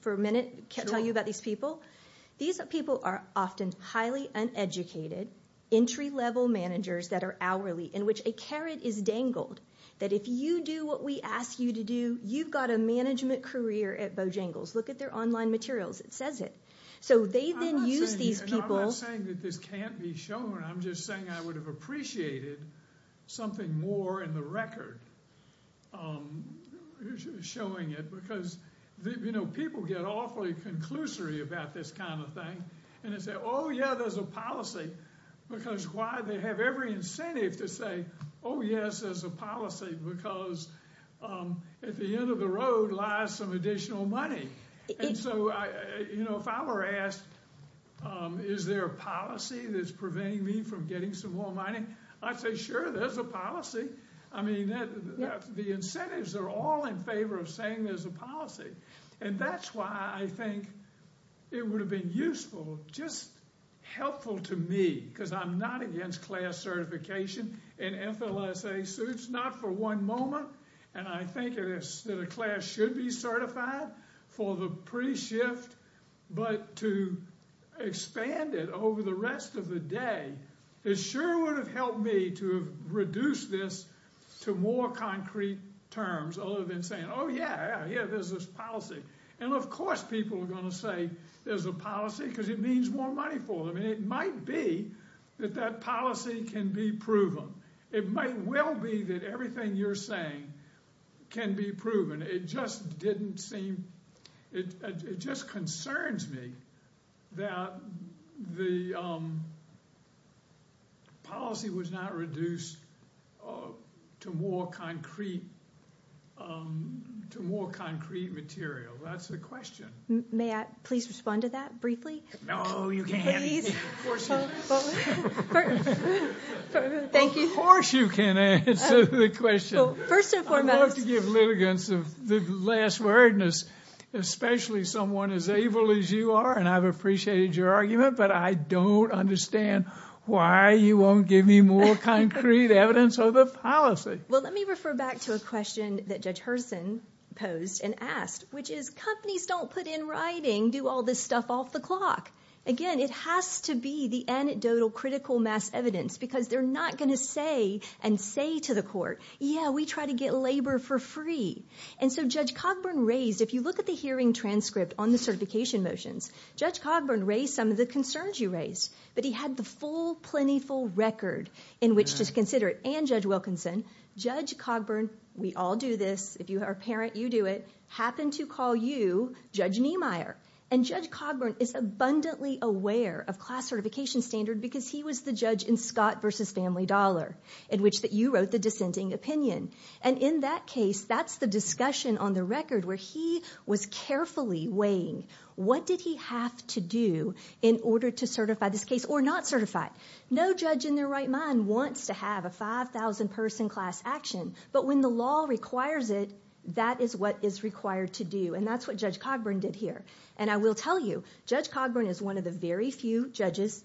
for a minute tell you about these people? These people are often highly uneducated, entry-level managers that are hourly, in which a carrot is dangled that if you do what we ask you to do, you've got a management career at Bojangles. Look at their online materials. It says it. So they then use these people. I'm not saying that this can't be shown. I'm just saying I would have appreciated something more in the record showing it, because, you know, people get awfully conclusory about this kind of thing, and they say, oh, yeah, there's a policy, because why? They have every incentive to say, oh, yes, there's a policy, because at the end of the road lies some additional money. And so, you know, if I were asked, is there a policy that's preventing me from getting some more money, I'd say, sure, there's a policy. I mean, the incentives are all in favor of saying there's a policy, and that's why I think it would have been useful, just helpful to me, because I'm not against class certification, and FLSA suits, not for one moment, and I think that a class should be certified for the pre-shift, but to expand it over the rest of the day, it sure would have helped me to have reduced this to more concrete terms, other than saying, oh, yeah, yeah, there's this policy. And, of course, people are going to say there's a policy, because it means more money for them, and it might be that that policy can be proven. It might well be that everything you're saying can be proven. It just concerns me that the policy was not reduced to more concrete material. That's the question. May I please respond to that briefly? No, you can't. Thank you. Of course you can answer the question. I love to give litigants the last wordness, especially someone as able as you are, and I've appreciated your argument, but I don't understand why you won't give me more concrete evidence of the policy. Well, let me refer back to a question that Judge Hurson posed and asked, which is companies don't put in writing, do all this stuff off the clock. Again, it has to be the anecdotal critical mass evidence, because they're not going to say and say to the court, yeah, we try to get labor for free. And so Judge Cogburn raised, if you look at the hearing transcript on the certification motions, Judge Cogburn raised some of the concerns you raised, but he had the full, plentiful record in which to consider it, and Judge Wilkinson. Judge Cogburn, we all do this. If you are a parent, you do it. Happened to call you Judge Niemeyer. And Judge Cogburn is abundantly aware of class certification standard because he was the judge in Scott v. Family Dollar in which you wrote the dissenting opinion. And in that case, that's the discussion on the record where he was carefully weighing what did he have to do in order to certify this case or not certify it. No judge in their right mind wants to have a 5,000-person class action, but when the law requires it, that is what is required to do, and that's what Judge Cogburn did here. And I will tell you, Judge Cogburn is one of the very few judges,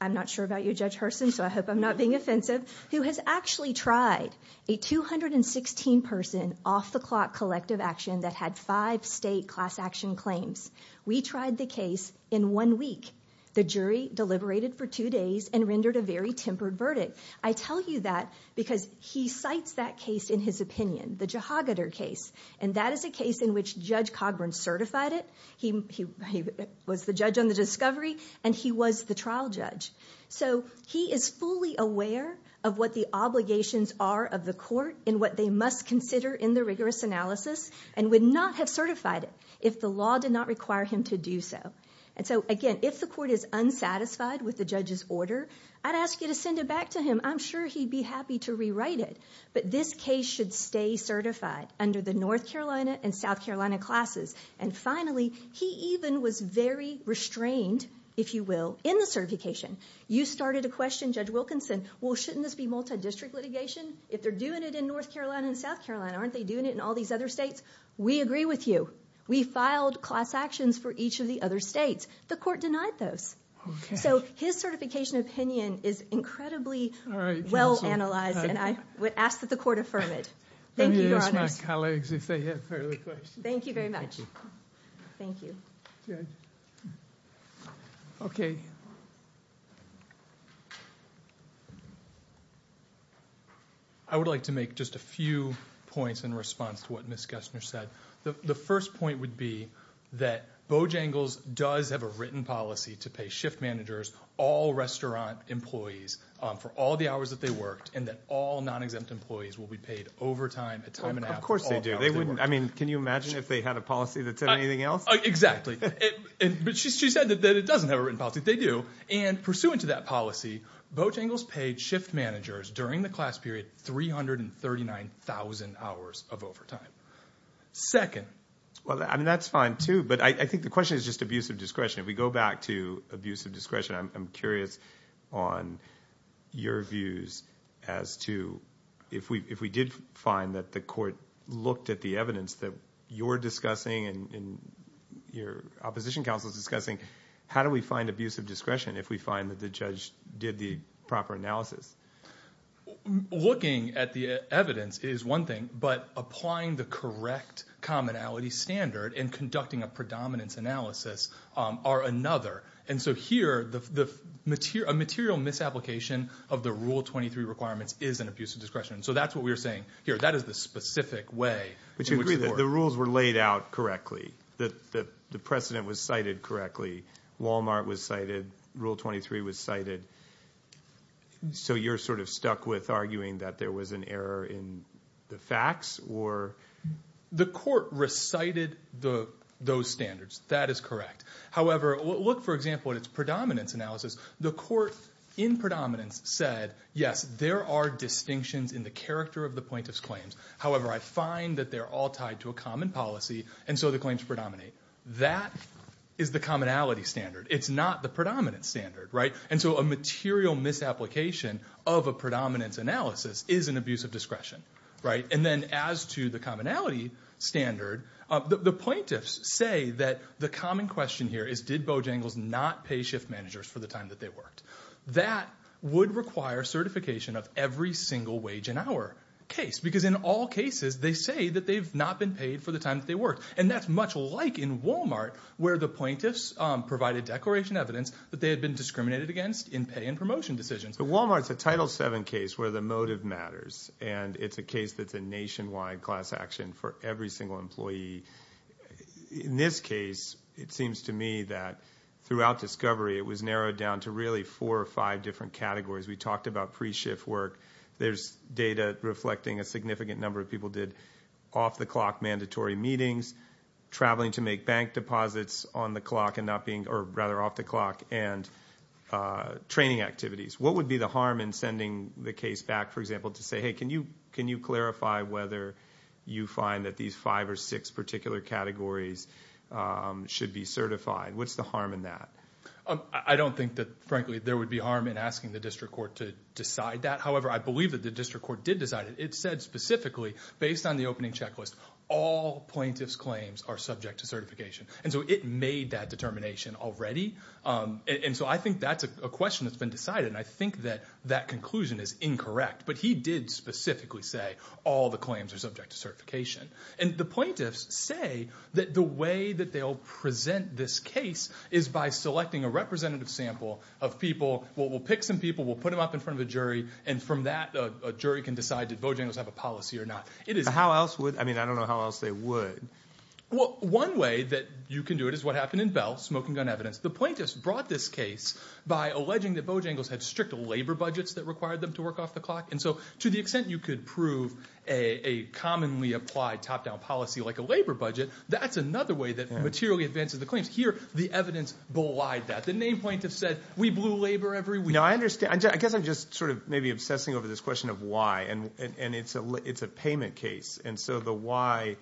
I'm not sure about you, Judge Hurston, so I hope I'm not being offensive, who has actually tried a 216-person off-the-clock collective action that had five state class action claims. We tried the case in one week. The jury deliberated for two days and rendered a very tempered verdict. I tell you that because he cites that case in his opinion, the Jehogadar case, and that is a case in which Judge Cogburn certified it. He was the judge on the discovery, and he was the trial judge. So he is fully aware of what the obligations are of the court and what they must consider in the rigorous analysis and would not have certified it if the law did not require him to do so. And so, again, if the court is unsatisfied with the judge's order, I'd ask you to send it back to him. I'm sure he'd be happy to rewrite it. But this case should stay certified under the North Carolina and South Carolina classes. And finally, he even was very restrained, if you will, in the certification. You started a question, Judge Wilkinson, well, shouldn't this be multi-district litigation? If they're doing it in North Carolina and South Carolina, aren't they doing it in all these other states? We agree with you. We filed class actions for each of the other states. The court denied those. So his certification opinion is incredibly well-analyzed, and I would ask that the court affirm it. Thank you, Your Honors. Let me ask my colleagues if they have further questions. Thank you very much. Thank you. Okay. I would like to make just a few points in response to what Ms. Gessner said. The first point would be that Bojangles does have a written policy to pay shift managers, all restaurant employees, for all the hours that they worked, and that all non-exempt employees will be paid overtime at time and hour. Of course they do. I mean, can you imagine if they had a policy that said anything else? Exactly. But she said that it doesn't have a written policy. They do. And pursuant to that policy, Bojangles paid shift managers during the class period 339,000 hours of overtime. Second. Well, I mean, that's fine, too. But I think the question is just abuse of discretion. If we go back to abuse of discretion, I'm curious on your views as to if we did find that the court looked at the evidence that you're discussing and your opposition counsel is discussing, how do we find abuse of discretion if we find that the judge did the proper analysis? Looking at the evidence is one thing, but applying the correct commonality standard and conducting a predominance analysis are another. And so here a material misapplication of the Rule 23 requirements is an abuse of discretion. So that's what we're saying here. That is the specific way in which the court. But you agree that the rules were laid out correctly, that the precedent was cited correctly, Walmart was cited, Rule 23 was cited. So you're sort of stuck with arguing that there was an error in the facts or? The court recited those standards. That is correct. However, look, for example, at its predominance analysis. The court in predominance said, yes, there are distinctions in the character of the plaintiff's claims. However, I find that they're all tied to a common policy. And so the claims predominate. That is the commonality standard. It's not the predominant standard. And so a material misapplication of a predominance analysis is an abuse of discretion. And then as to the commonality standard, the plaintiffs say that the common question here is, did Bojangles not pay shift managers for the time that they worked? That would require certification of every single wage and hour case, because in all cases they say that they've not been paid for the time that they worked. And that's much like in Walmart where the plaintiffs provided declaration evidence that they had been discriminated against in pay and promotion decisions. But Walmart's a Title VII case where the motive matters, and it's a case that's a nationwide class action for every single employee. In this case, it seems to me that throughout discovery it was narrowed down to really four or five different categories. We talked about pre-shift work. There's data reflecting a significant number of people did off-the-clock mandatory meetings, traveling to make bank deposits on the clock and not being, or rather off the clock, and training activities. What would be the harm in sending the case back, for example, to say, hey, can you clarify whether you find that these five or six particular categories should be certified? What's the harm in that? I don't think that, frankly, there would be harm in asking the district court to decide that. However, I believe that the district court did decide it. It said specifically, based on the opening checklist, all plaintiffs' claims are subject to certification. And so it made that determination already. And so I think that's a question that's been decided, and I think that that conclusion is incorrect. But he did specifically say all the claims are subject to certification. And the plaintiffs say that the way that they'll present this case is by selecting a representative sample of people. We'll pick some people, we'll put them up in front of a jury, and from that, a jury can decide did Bojangles have a policy or not. How else would, I mean, I don't know how else they would. Well, one way that you can do it is what happened in Bell, smoking gun evidence. The plaintiffs brought this case by alleging that Bojangles had strict labor budgets that required them to work off the clock. And so to the extent you could prove a commonly applied top-down policy like a labor budget, that's another way that materially advances the claims. Here, the evidence belied that. The name plaintiffs said, we blew labor every week. No, I understand. I guess I'm just sort of maybe obsessing over this question of why, and it's a payment case. And so the why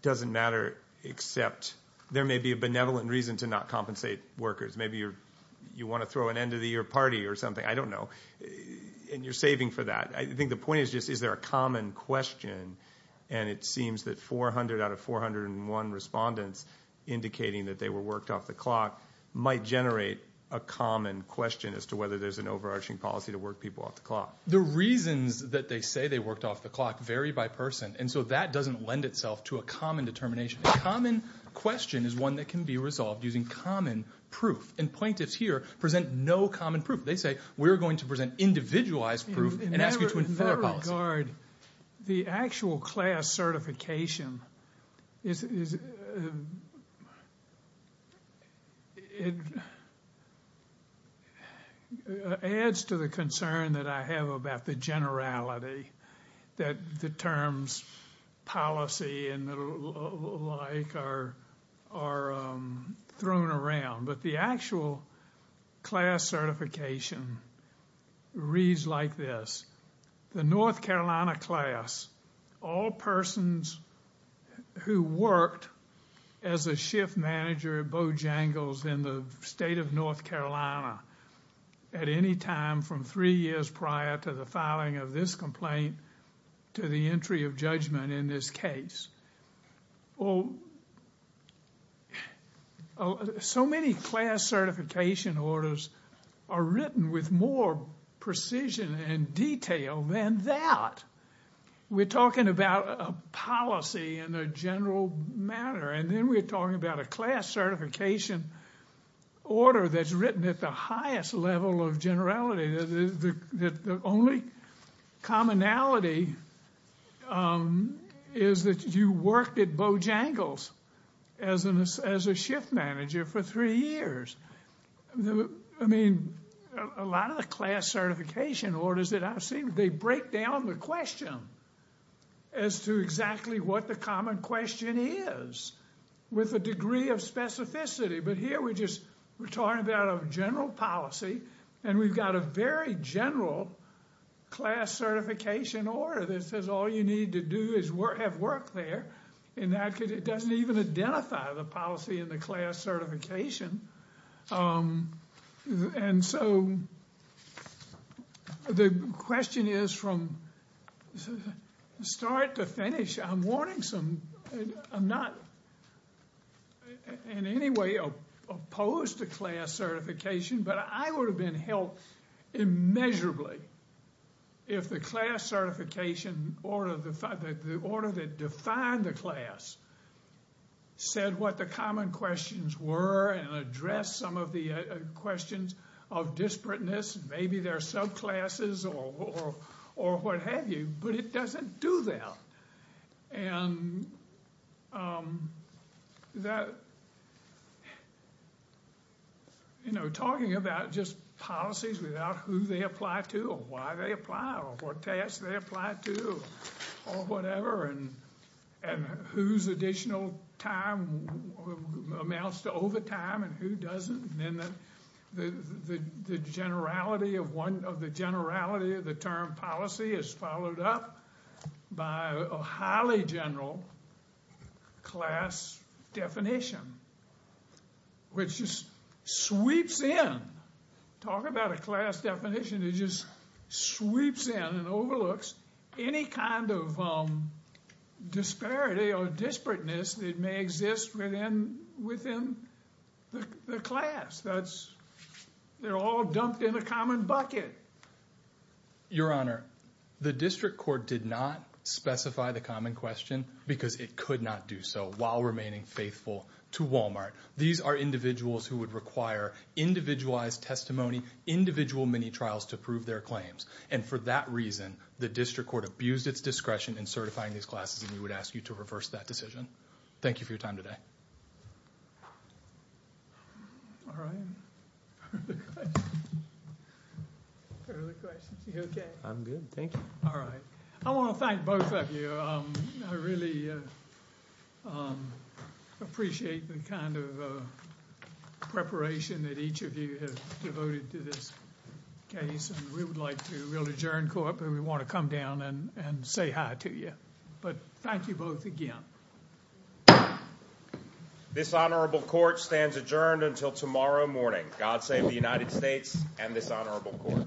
doesn't matter except there may be a benevolent reason to not compensate workers. Maybe you want to throw an end-of-the-year party or something. I don't know. And you're saving for that. I think the point is just is there a common question, and it seems that 400 out of 401 respondents indicating that they were worked off the clock might generate a common question as to whether there's an overarching policy to work people off the clock. The reasons that they say they worked off the clock vary by person, and so that doesn't lend itself to a common determination. A common question is one that can be resolved using common proof. And plaintiffs here present no common proof. They say we're going to present individualized proof and ask you to infer a policy. The actual class certification adds to the concern that I have about the generality, that the terms policy and the like are thrown around. But the actual class certification reads like this. The North Carolina class, all persons who worked as a shift manager at Bojangles in the state of North Carolina at any time from three years prior to the filing of this complaint to the entry of judgment in this case. Well, so many class certification orders are written with more precision and detail than that. We're talking about a policy in a general manner, and then we're talking about a class certification order that's written at the highest level of generality. The only commonality is that you worked at Bojangles as a shift manager for three years. I mean, a lot of the class certification orders that I've seen, they break down the question as to exactly what the common question is with a degree of specificity. But here we're just talking about a general policy, and we've got a very general class certification order that says all you need to do is have work there. And that doesn't even identify the policy in the class certification. And so the question is from start to finish. I'm not in any way opposed to class certification, but I would have been helped immeasurably if the class certification order that defined the class said what the common questions were and addressed some of the questions of disparateness. Maybe there are subclasses or what have you, but it doesn't do that. And that, you know, talking about just policies without who they apply to or why they apply or what tasks they apply to or whatever and whose additional time amounts to overtime and who doesn't, the generality of the term policy is followed up by a highly general class definition, which just sweeps in. Talk about a class definition that just sweeps in and overlooks any kind of disparity or disparateness that may exist within the class. They're all dumped in a common bucket. Your Honor, the district court did not specify the common question because it could not do so while remaining faithful to Walmart. These are individuals who would require individualized testimony, individual mini-trials to prove their claims. And for that reason, the district court abused its discretion in certifying these classes, and we would ask you to reverse that decision. Thank you for your time today. All right. Are the questions okay? I'm good, thank you. All right. I want to thank both of you. I really appreciate the kind of preparation that each of you have devoted to this case, and we would like to really adjourn court, but we want to come down and say hi to you. But thank you both again. This honorable court stands adjourned until tomorrow morning. God save the United States and this honorable court.